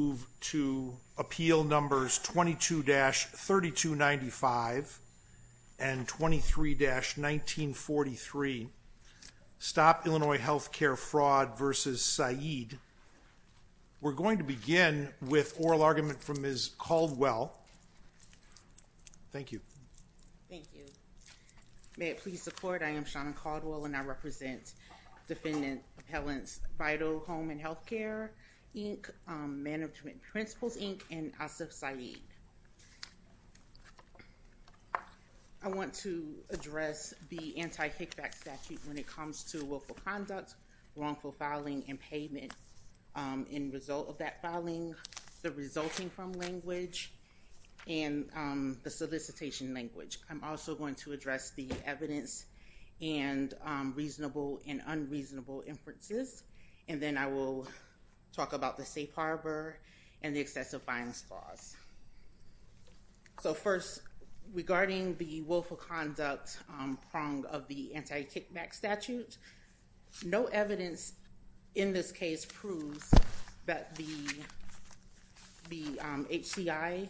We're going to begin with oral argument from Ms. Caldwell. Thank you. Thank you. May it please the court, I am Sean Caldwell and I represent Defendant Appellants Vital Home and Health Care, Inc., Management Principles, Inc. and Asif Sayeed. I want to address the anti-kickback statute when it comes to willful conduct, wrongful filing and payment in result of that filing, the resulting from language and the solicitation language. I'm also going to address the evidence and reasonable and unreasonable inferences and then I will talk about the safe harbor and the excessive fines clause. So first, regarding the willful conduct prong of the anti-kickback statute, no evidence in this case proves that the HCI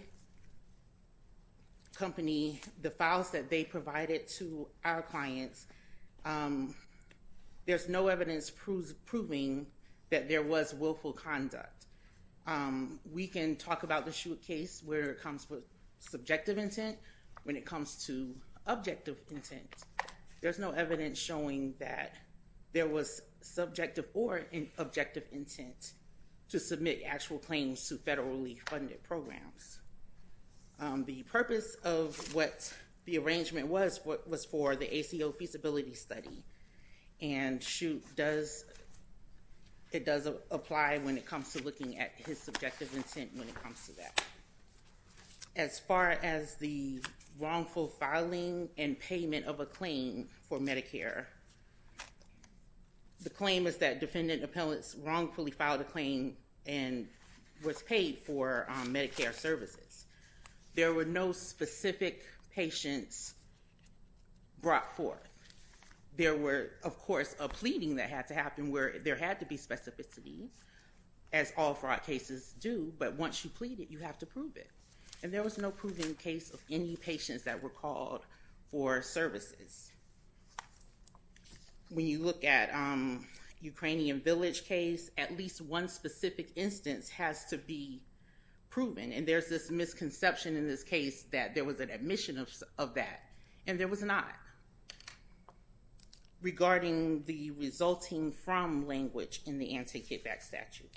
company, the files that they provided to our clients, there's no evidence proving that there was willful conduct. We can talk about the case where it comes with subjective intent, when it comes to objective intent, there's no evidence showing that there was subjective or an objective intent to submit actual claims to federally funded programs. The purpose of what the arrangement was, was for the ACO feasibility study and it does apply when it comes to looking at his subjective intent when it comes to that. As far as the wrongful filing and payment of a claim for Medicare, the claim is that There were no specific patients brought forth. There were, of course, a pleading that had to happen where there had to be specificity as all fraud cases do, but once you plead it, you have to prove it. And there was no proven case of any patients that were called for services. When you look at Ukrainian Village case, at least one specific instance has to be proven and there's this misconception in this case that there was an admission of that and there was not. Regarding the resulting from language in the anti-kickback statute,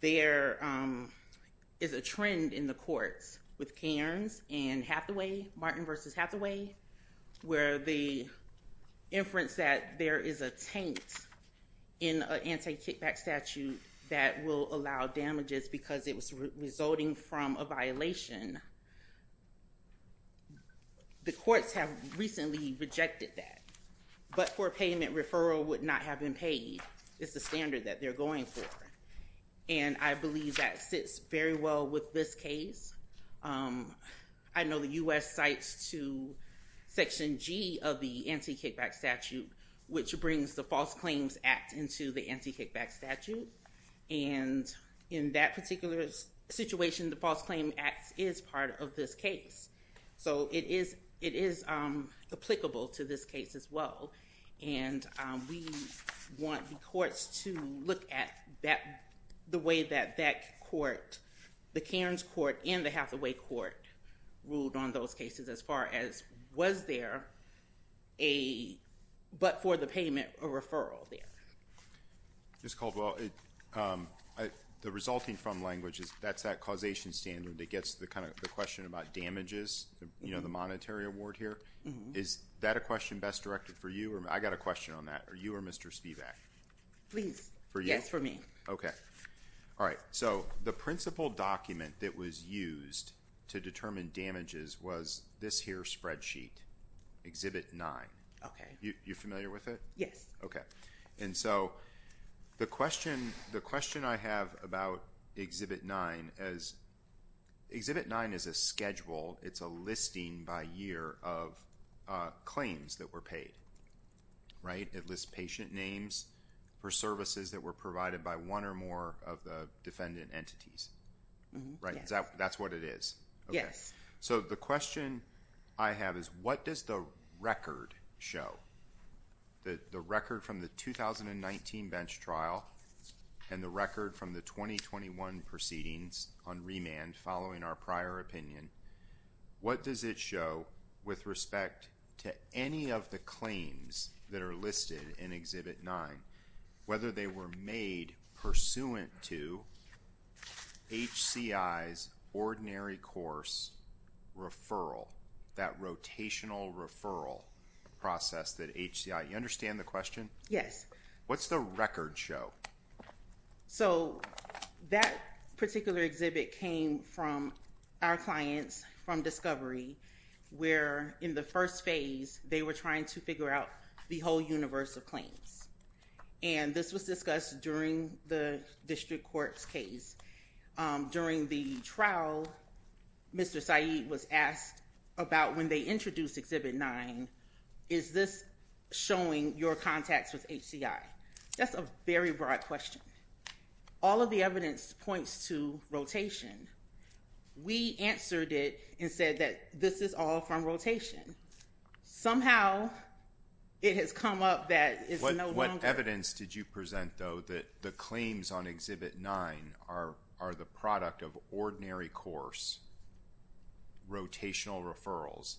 there is a trend in the courts with Cairns and Hathaway, Martin versus Hathaway, where the inference that there is a taint in an anti-kickback statute that will allow damages because it was resulting from a violation. The courts have recently rejected that. But for payment, referral would not have been paid. It's the standard that they're going for. And I believe that sits very well with this case. I know the U.S. cites to Section G of the anti-kickback statute, which brings the False Claims Act into the anti-kickback statute. And in that particular situation, the False Claims Act is part of this case. So it is applicable to this case as well. And we want the courts to look at the way that that court, the Cairns court and the Hathaway court, ruled on those cases as far as was there a, but for the payment, a referral there. Ms. Caldwell, the resulting from language, that's that causation standard that gets to the question about damages, you know, the monetary award here. Is that a question best directed for you? I got a question on that. Are you or Mr. Spivak? Please. For you? Yes, for me. Okay. All right. So the principal document that was used to determine damages was this here spreadsheet, Exhibit 9. Okay. You familiar with it? Yes. Okay. And so the question I have about Exhibit 9 is, Exhibit 9 is a schedule. It's a listing by year of claims that were paid, right? It lists patient names for services that were provided by one or more of the defendant entities, right? That's what it is. Yes. Okay. So the question I have is, what does the record show? The record from the 2019 bench trial and the record from the 2021 proceedings on remand following our prior opinion, what does it show with respect to any of the claims that are listed in Exhibit 9, whether they were made pursuant to HCI's ordinary course referral, that rotational referral process that HCI, you understand the question? Yes. What's the record show? So, that particular exhibit came from our clients from Discovery, where in the first phase, they were trying to figure out the whole universe of claims. And this was discussed during the district court's case. During the trial, Mr. Saeed was asked about when they introduced Exhibit 9, is this showing your contacts with HCI? That's a very broad question. All of the evidence points to rotation. We answered it and said that this is all from rotation. Somehow, it has come up that it's no longer... What evidence did you present, though, that the claims on Exhibit 9 are the product of ordinary course rotational referrals?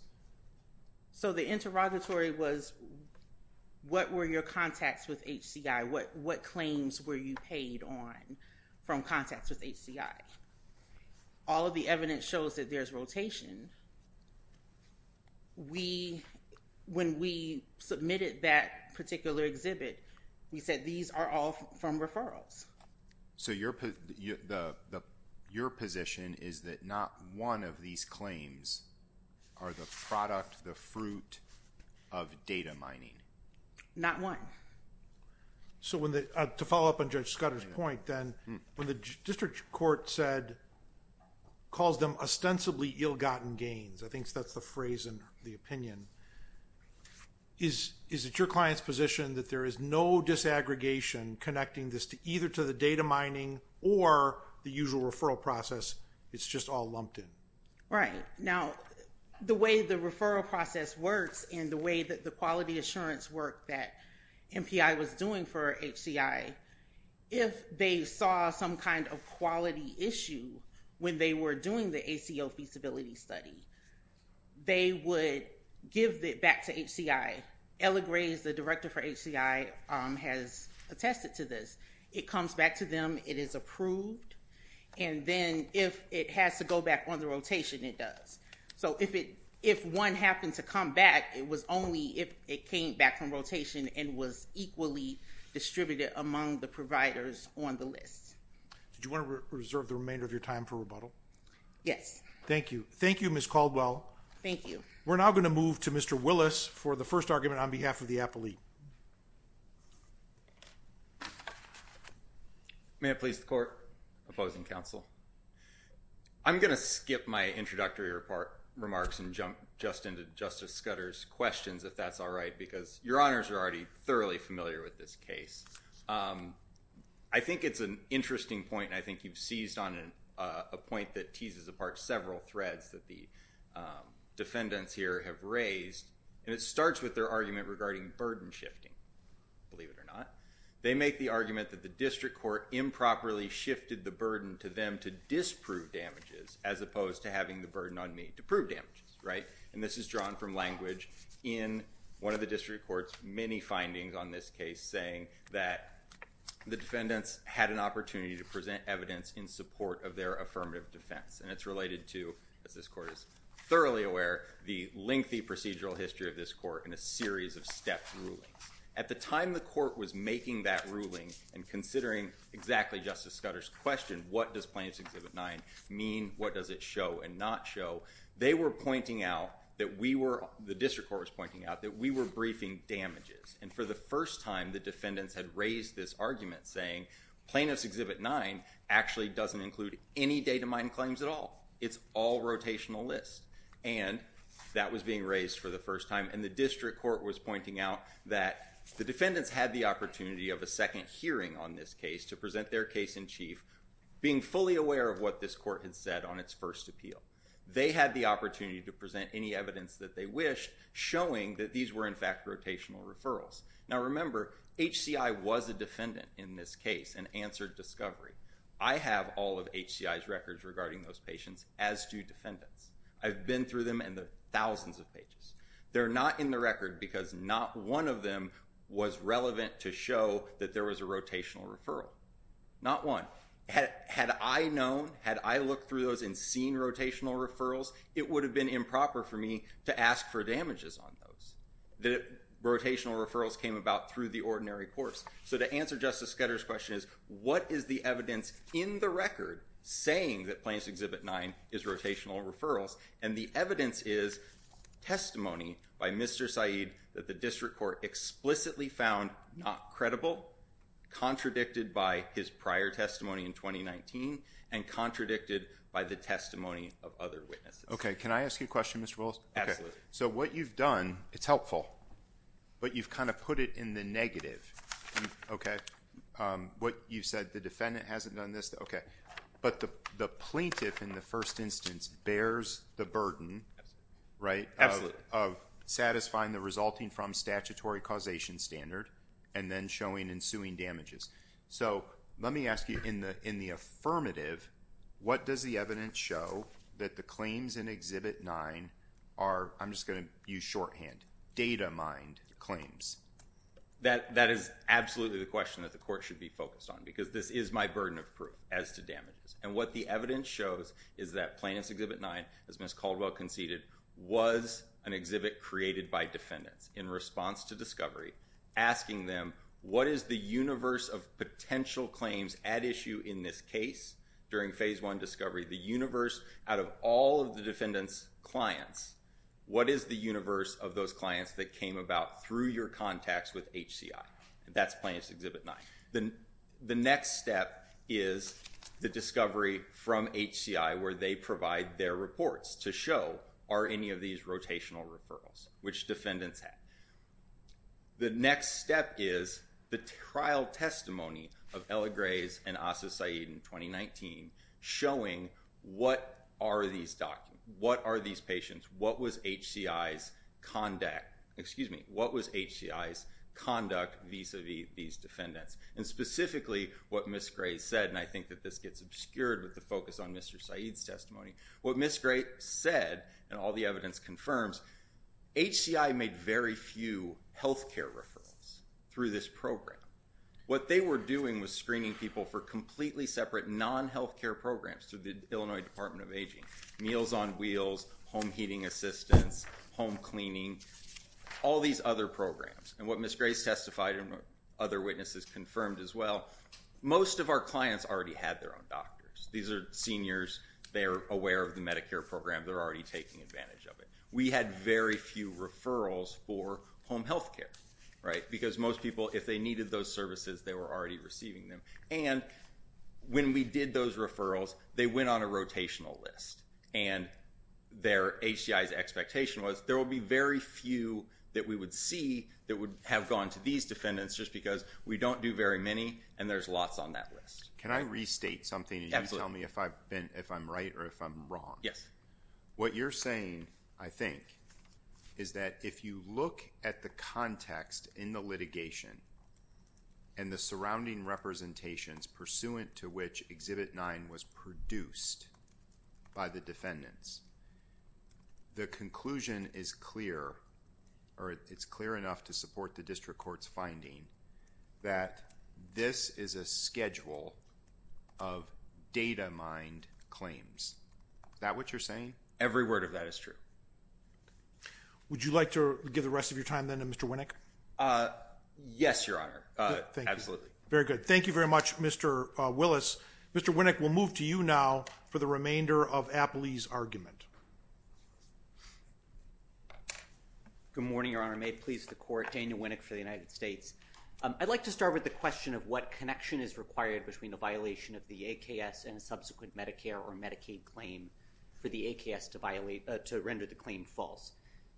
So, the interrogatory was, what were your contacts with HCI? What claims were you paid on from contacts with HCI? All of the evidence shows that there's rotation. When we submitted that particular exhibit, we said these are all from referrals. So, your position is that not one of these claims are the product, the fruit of data mining? Not one. So, to follow up on Judge Scudder's point, then, when the district court said, calls them ostensibly ill-gotten gains, I think that's the phrase in the opinion, is it your client's position that there is no disaggregation connecting this either to the data mining or the usual referral process, it's just all lumped in? Right. Now, the way the referral process works and the way that the quality assurance work that MPI was doing for HCI, if they saw some kind of quality issue when they were doing the HCI, it was only if it came back from rotation and was equally distributed among the providers on the list. Did you want to reserve the remainder of your time for rebuttal? Yes. Thank you. Thank you, Ms. Caldwell. Thank you. We're now going to move to Mr. Willis for the first argument on behalf of the appellee. Thank you, Mr. Chairman. Thank you, Ms. Caldwell. Thank you. May it please the Court. Opposing counsel. I'm going to skip my introductory remarks and jump just into Justice Scudder's questions if that's all right because your honors are already thoroughly familiar with this case. I think it's an interesting point and I think you've seized on a point that teases apart several threads that the defendants here have raised, and it starts with their argument regarding burden shifting, believe it or not. They make the argument that the district court improperly shifted the burden to them to disprove damages as opposed to having the burden on me to prove damages, right? This is drawn from language in one of the district court's many findings on this case saying that the defendants had an opportunity to present evidence in support of their affirmative defense, and it's related to, as this court is thoroughly aware, the lengthy procedural history of this court in a series of step rulings. At the time the court was making that ruling and considering exactly Justice Scudder's question, what does Plaintiff's Exhibit 9 mean? What does it show and not show? They were pointing out that we were, the district court was pointing out, that we were briefing damages, and for the first time the defendants had raised this argument saying Plaintiff's Exhibit 9 actually doesn't include any datamined claims at all. It's all rotational lists, and that was being raised for the first time, and the district court was pointing out that the defendants had the opportunity of a second hearing on this case to present their case in chief, being fully aware of what this court had said on its first appeal. They had the opportunity to present any evidence that they wished, showing that these were in fact rotational referrals. Now remember, HCI was a defendant in this case and answered discovery. I have all of HCI's records regarding those patients, as do defendants. I've been through them in the thousands of pages. They're not in the record because not one of them was relevant to show that there was a rotational referral. Not one. Had I known, had I looked through those and seen rotational referrals, it would have been improper for me to ask for damages on those. The rotational referrals came about through the ordinary courts. So to answer Justice Scudder's question is, what is the evidence in the record saying that Plaintiff's Exhibit 9 is rotational referrals? And the evidence is testimony by Mr. Saeed that the district court explicitly found not credible, contradicted by his prior testimony in 2019, and contradicted by the testimony of other witnesses. Okay. Can I ask you a question, Mr. Willis? Absolutely. So what you've done, it's helpful, but you've kind of put it in the negative. Okay. What you've said, the defendant hasn't done this. Okay. But the plaintiff in the first instance bears the burden, right? Absolutely. Of satisfying the resulting from statutory causation standard and then showing ensuing damages. So let me ask you, in the affirmative, what does the evidence show that the claims in I'm just going to use shorthand, data-mined claims. That is absolutely the question that the court should be focused on, because this is my burden of proof as to damages. And what the evidence shows is that Plaintiff's Exhibit 9, as Ms. Caldwell conceded, was an exhibit created by defendants in response to discovery, asking them, what is the universe of potential claims at issue in this case during Phase 1 discovery? The universe out of all of the defendant's clients. What is the universe of those clients that came about through your contacts with HCI? That's Plaintiff's Exhibit 9. The next step is the discovery from HCI where they provide their reports to show, are any of these rotational referrals, which defendants had. The next step is the trial testimony of Ella Gray's and Asa Saeed in 2019, showing what are these patients, what was HCI's conduct vis-a-vis these defendants. And specifically, what Ms. Gray said, and I think that this gets obscured with the focus What Ms. Gray said, and all the evidence confirms, HCI made very few healthcare referrals through this program. What they were doing was screening people for completely separate non-healthcare programs through the Illinois Department of Aging. Meals on Wheels, Home Heating Assistance, Home Cleaning, all these other programs. And what Ms. Gray testified and what other witnesses confirmed as well, most of our clients already had their own doctors. These are seniors. They are aware of the Medicare program. They're already taking advantage of it. We had very few referrals for home healthcare, right? Because most people, if they needed those services, they were already receiving them. And when we did those referrals, they went on a rotational list. And HCI's expectation was there will be very few that we would see that would have gone to these defendants just because we don't do very many and there's lots on that list. Can I restate something and you tell me if I'm right or if I'm wrong? Yes. What you're saying, I think, is that if you look at the context in the litigation and the surrounding representations pursuant to which Exhibit 9 was produced by the defendants, the conclusion is clear or it's clear enough to support the district court's finding that this is a schedule of data-mined claims. Is that what you're saying? Every word of that is true. Would you like to give the rest of your time then to Mr. Winnick? Yes, Your Honor. Absolutely. Very good. Thank you very much, Mr. Willis. Mr. Winnick, we'll move to you now for the remainder of Apley's argument. Good morning, Your Honor. May it please the Court, Daniel Winnick for the United States. I'd like to start with the question of what connection is required between a violation of the AKS and a subsequent Medicare or Medicaid claim for the AKS to render the claim false.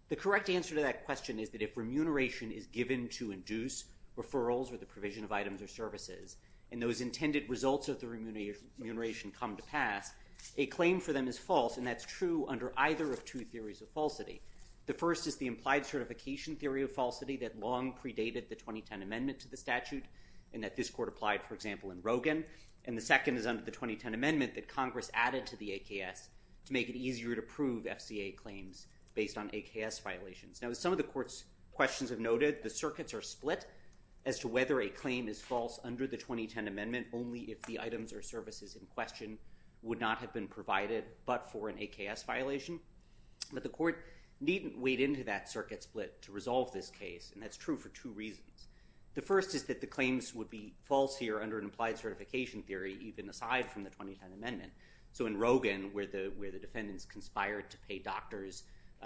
The correct answer to that question is that if remuneration is given to induce referrals or the provision of items or services and those intended results of the remuneration come to pass, a claim for them is false and that's true under either of two theories of falsity. The first is the implied certification theory of falsity that long predated the 2010 Amendment to the statute and that this Court applied, for example, in Rogin. And the second is under the 2010 Amendment that Congress added to the AKS to make it easier to prove FCA claims based on AKS violations. Now, as some of the Court's questions have noted, the circuits are split as to whether a claim is false under the 2010 Amendment only if the items or services in question would not have been provided but for an AKS violation. But the Court needn't wade into that circuit split to resolve this case and that's true for two reasons. The first is that the claims would be false here under an implied certification theory even aside from the 2010 Amendment. So in Rogin, where the defendants conspired to pay doctors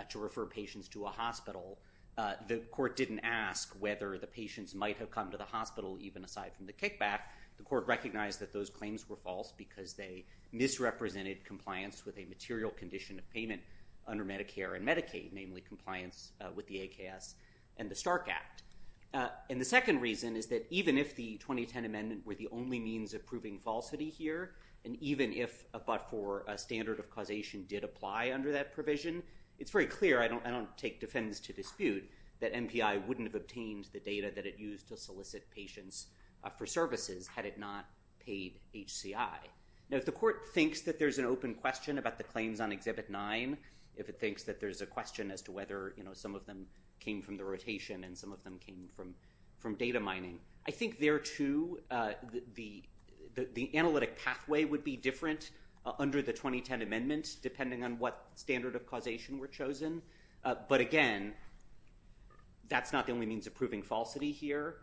to refer patients to a hospital, the Court didn't ask whether the patients might have come to the hospital even aside from the kickback. The Court recognized that those claims were false because they misrepresented compliance with a material condition of payment under Medicare and Medicaid, namely compliance with the AKS and the Stark Act. And the second reason is that even if the 2010 Amendment were the only means of proving falsity here, and even if a but-for standard of causation did apply under that provision, it's very clear, I don't take defendants to dispute, that MPI wouldn't have obtained the data that it used to solicit patients for services had it not paid HCI. Now if the Court thinks that there's an open question about the claims on Exhibit 9, if it thinks that there's a question as to whether some of them came from the rotation and some of them came from data mining, I think there too the analytic pathway would be different under the 2010 Amendment depending on what standard of causation were chosen. But again, that's not the only means of proving falsity here.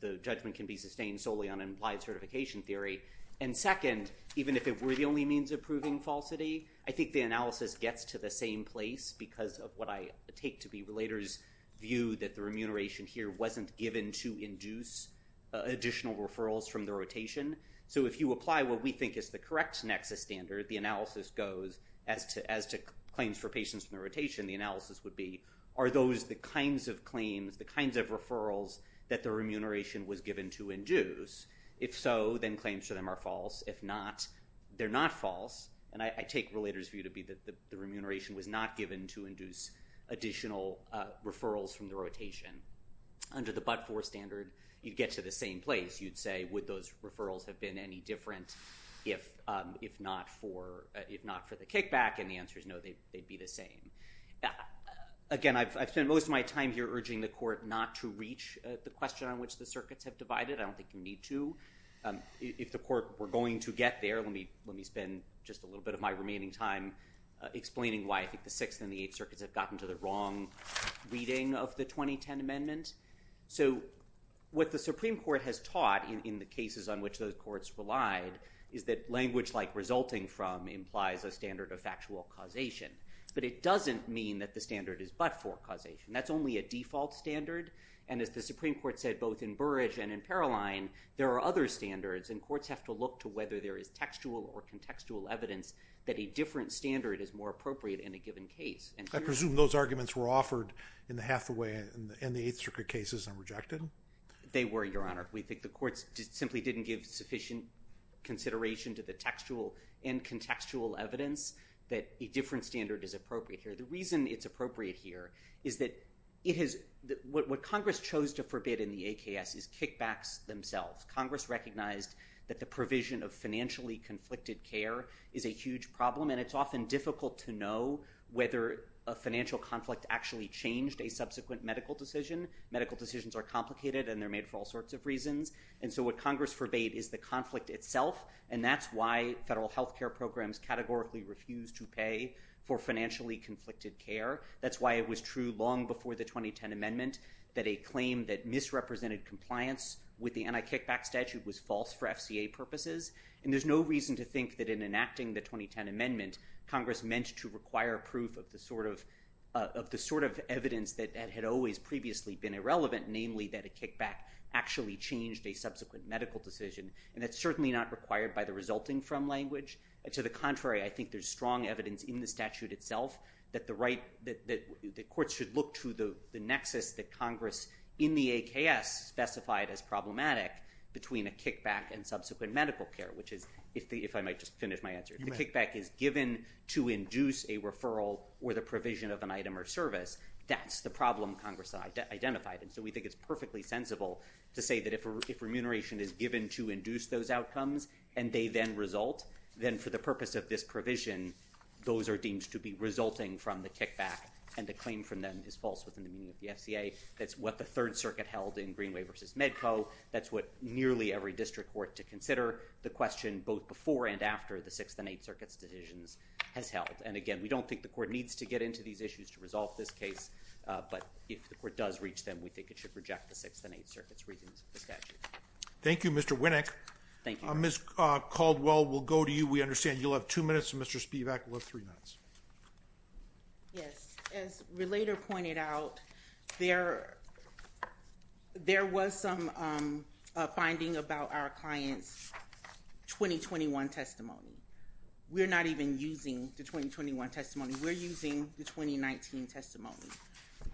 The judgment can be sustained solely on an implied certification theory. And second, even if it were the only means of proving falsity, I think the analysis gets to the same place because of what I take to be relators' view that the remuneration here wasn't given to induce additional referrals from the rotation. So if you apply what we think is the correct nexus standard, the analysis goes, as to claims for patients in the rotation, the analysis would be, are those the kinds of claims, the kinds of referrals that the remuneration was given to induce? If so, then claims for them are false. If not, they're not false. And I take relators' view to be that the remuneration was not given to induce additional referrals from the rotation. Under the but-for standard, you'd get to the same place. You'd say, would those referrals have been any different if not for the kickback? And the answer is no, they'd be the same. Again, I've spent most of my time here urging the Court not to reach the question on which the circuits have divided. I don't think you need to. If the Court were going to get there, let me spend just a little bit of my remaining time explaining why I think the Sixth and the Eighth Circuits have gotten to the wrong reading of the 2010 amendment. So what the Supreme Court has taught in the cases on which those courts relied is that language like resulting from implies a standard of factual causation. But it doesn't mean that the standard is but-for causation. That's only a default standard. And as the Supreme Court said both in Burrage and in Paroline, there are other standards and courts have to look to whether there is textual or contextual evidence that a different standard is more appropriate in a given case. I presume those arguments were offered in the Hathaway and the Eighth Circuit cases and rejected? They were, Your Honor. We think the courts simply didn't give sufficient consideration to the textual and contextual evidence that a different standard is appropriate here. The reason it's appropriate here is that what Congress chose to forbid in the AKS is kickbacks themselves. Congress recognized that the provision of financially conflicted care is a huge problem and it's often difficult to know whether a financial conflict actually changed a subsequent medical decision. Medical decisions are complicated and they're made for all sorts of reasons. And so what Congress forbade is the conflict itself and that's why federal health care programs categorically refuse to pay for financially conflicted care. That's why it was true long before the 2010 amendment that a claim that misrepresented compliance with the anti-kickback statute was false for FCA purposes. And there's no reason to think that in enacting the 2010 amendment, Congress meant to require proof of the sort of evidence that had always previously been irrelevant, namely that a kickback actually changed a subsequent medical decision. And that's certainly not required by the resulting from language. To the contrary, I think there's strong evidence in the statute itself that courts should look to the nexus that Congress in the AKS specified as problematic between a kickback and subsequent medical care, which is, if I might just finish my answer. If the kickback is given to induce a referral or the provision of an item or service, that's the problem Congress identified. And so we think it's perfectly sensible to say that if remuneration is given to induce those outcomes and they then result, then for the purpose of this provision, those are deemed to be resulting from the kickback and the claim from them is false within the meaning of the FCA. That's what the Third Circuit held in Greenway versus Medco. That's what nearly every district court to consider. The question both before and after the Sixth and Eighth Circuit's decisions has held. And again, we don't think the court needs to get into these issues to resolve this case. But if the court does reach them, we think it should reject the Sixth and Eighth Circuit's reasons for the statute. Thank you, Mr. Winnick. Thank you. Ms. Caldwell, we'll go to you. We understand you'll have two minutes and Mr. Spivak will have three minutes. Yes. As Relator pointed out, there was some finding about our client's 2021 testimony. We're not even using the 2021 testimony. We're using the 2019 testimony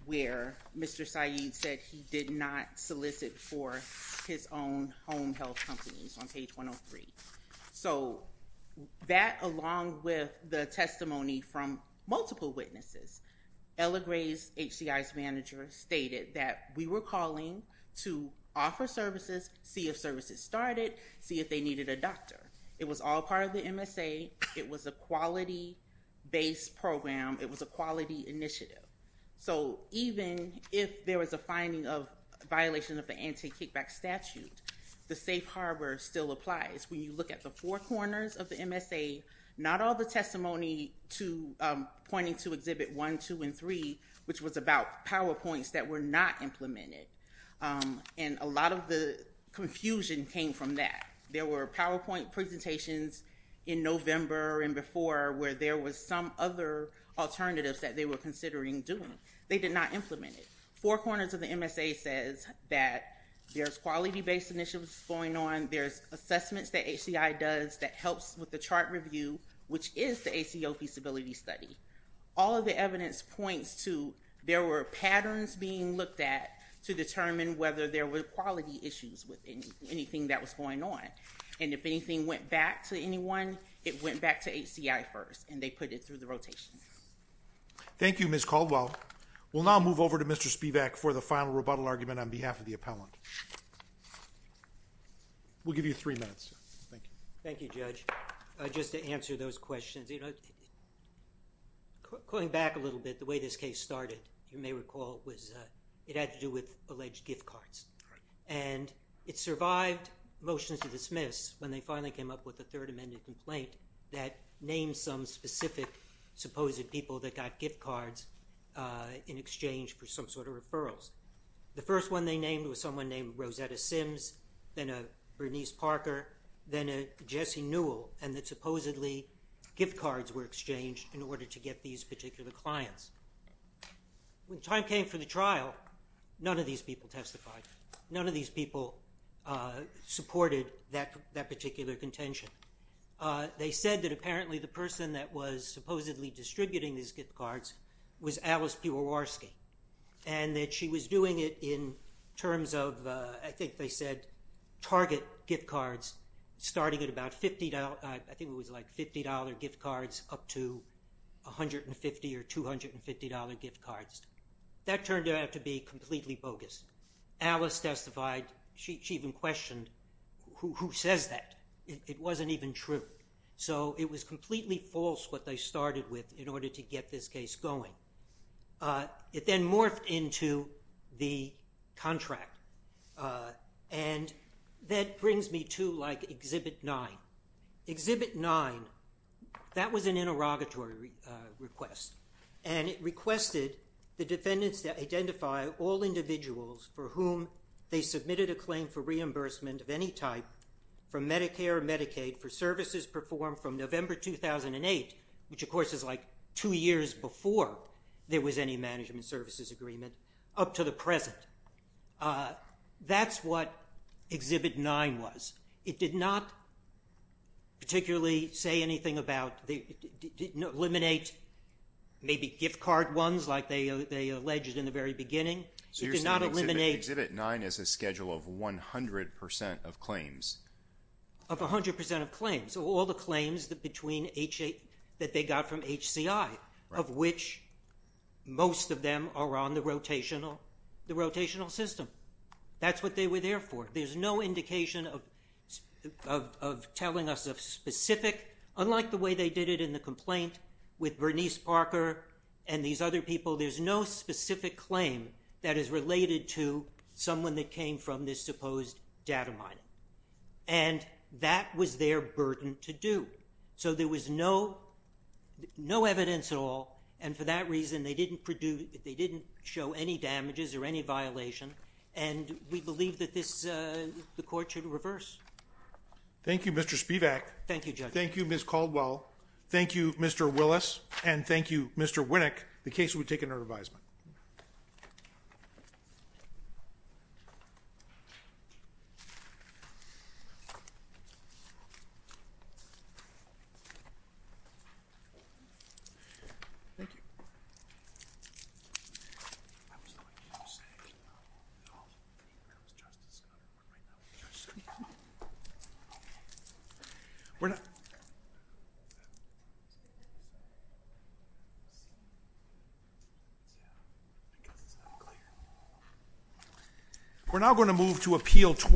where Mr. Syed said he did not solicit for his own home health companies on page 103. So, that along with the testimony from multiple witnesses, Ella Gray's HCI's manager stated that we were calling to offer services, see if services started, see if they needed a doctor. It was all part of the MSA. It was a quality-based program. It was a quality initiative. So, even if there was a finding of violation of the anti-kickback statute, the safe harbor still applies. When you look at the four corners of the MSA, not all the testimony to pointing to Exhibit 1, 2, and 3, which was about PowerPoints that were not implemented, and a lot of the confusion came from that. There were PowerPoint presentations in November and before where there was some other alternatives that they were considering doing. They did not implement it. Four Corners of the MSA says that there's quality-based initiatives going on. There's assessments that HCI does that helps with the chart review, which is the ACO feasibility study. All of the evidence points to there were patterns being looked at to determine whether there were quality issues with anything that was going on. If anything went back to anyone, it went back to HCI first, and they put it through the rotation. Thank you, Ms. Caldwell. We'll now move over to Mr. Spivak for the final rebuttal argument on behalf of the appellant. We'll give you three minutes. Thank you. Thank you, Judge. Just to answer those questions, going back a little bit, the way this case started, you And it survived motions to dismiss when they finally came up with a Third Amendment complaint that named some specific supposed people that got gift cards in exchange for some sort of referrals. The first one they named was someone named Rosetta Sims, then a Bernice Parker, then a Jesse Newell, and that supposedly gift cards were exchanged in order to get these particular clients. When the time came for the trial, none of these people testified. None of these people supported that particular contention. They said that apparently the person that was supposedly distributing these gift cards was Alice Piewarski, and that she was doing it in terms of, I think they said, target gift cards starting at about $50, I think it was like $50 gift cards up to $150 or $250 gift cards. That turned out to be completely bogus. Alice testified. She even questioned who says that. It wasn't even true. So it was completely false what they started with in order to get this case going. It then morphed into the contract, and that brings me to like Exhibit 9. Exhibit 9, that was an interrogatory request, and it requested the defendants to identify all individuals for whom they submitted a claim for reimbursement of any type from Medicare or Medicaid for services performed from November 2008, which, of course, is like two years before there was any management services agreement, up to the present. That's what Exhibit 9 was. It did not particularly say anything about, it didn't eliminate maybe gift card ones, like they alleged in the very beginning. It did not eliminate... So you're saying Exhibit 9 is a schedule of 100% of claims? Of 100% of claims. So all the claims that they got from HCI, of which most of them are on the rotational system. That's what they were there for. There's no indication of telling us a specific... Unlike the way they did it in the complaint with Bernice Parker and these other people, there's no specific claim that is related to someone that came from this supposed data mining. And that was their burden to do. So there was no evidence at all, and for that reason, they didn't show any damages or any violation, and we believe that the court should reverse. Thank you, Mr. Spivak. Thank you, Judge. Thank you, Ms. Caldwell. Thank you, Mr. Willis, and thank you, Mr. Winnick. The case will be taken under revision. Thank you. We're not... Yeah, I guess it's not clear. We're now going to move to Appeal 21.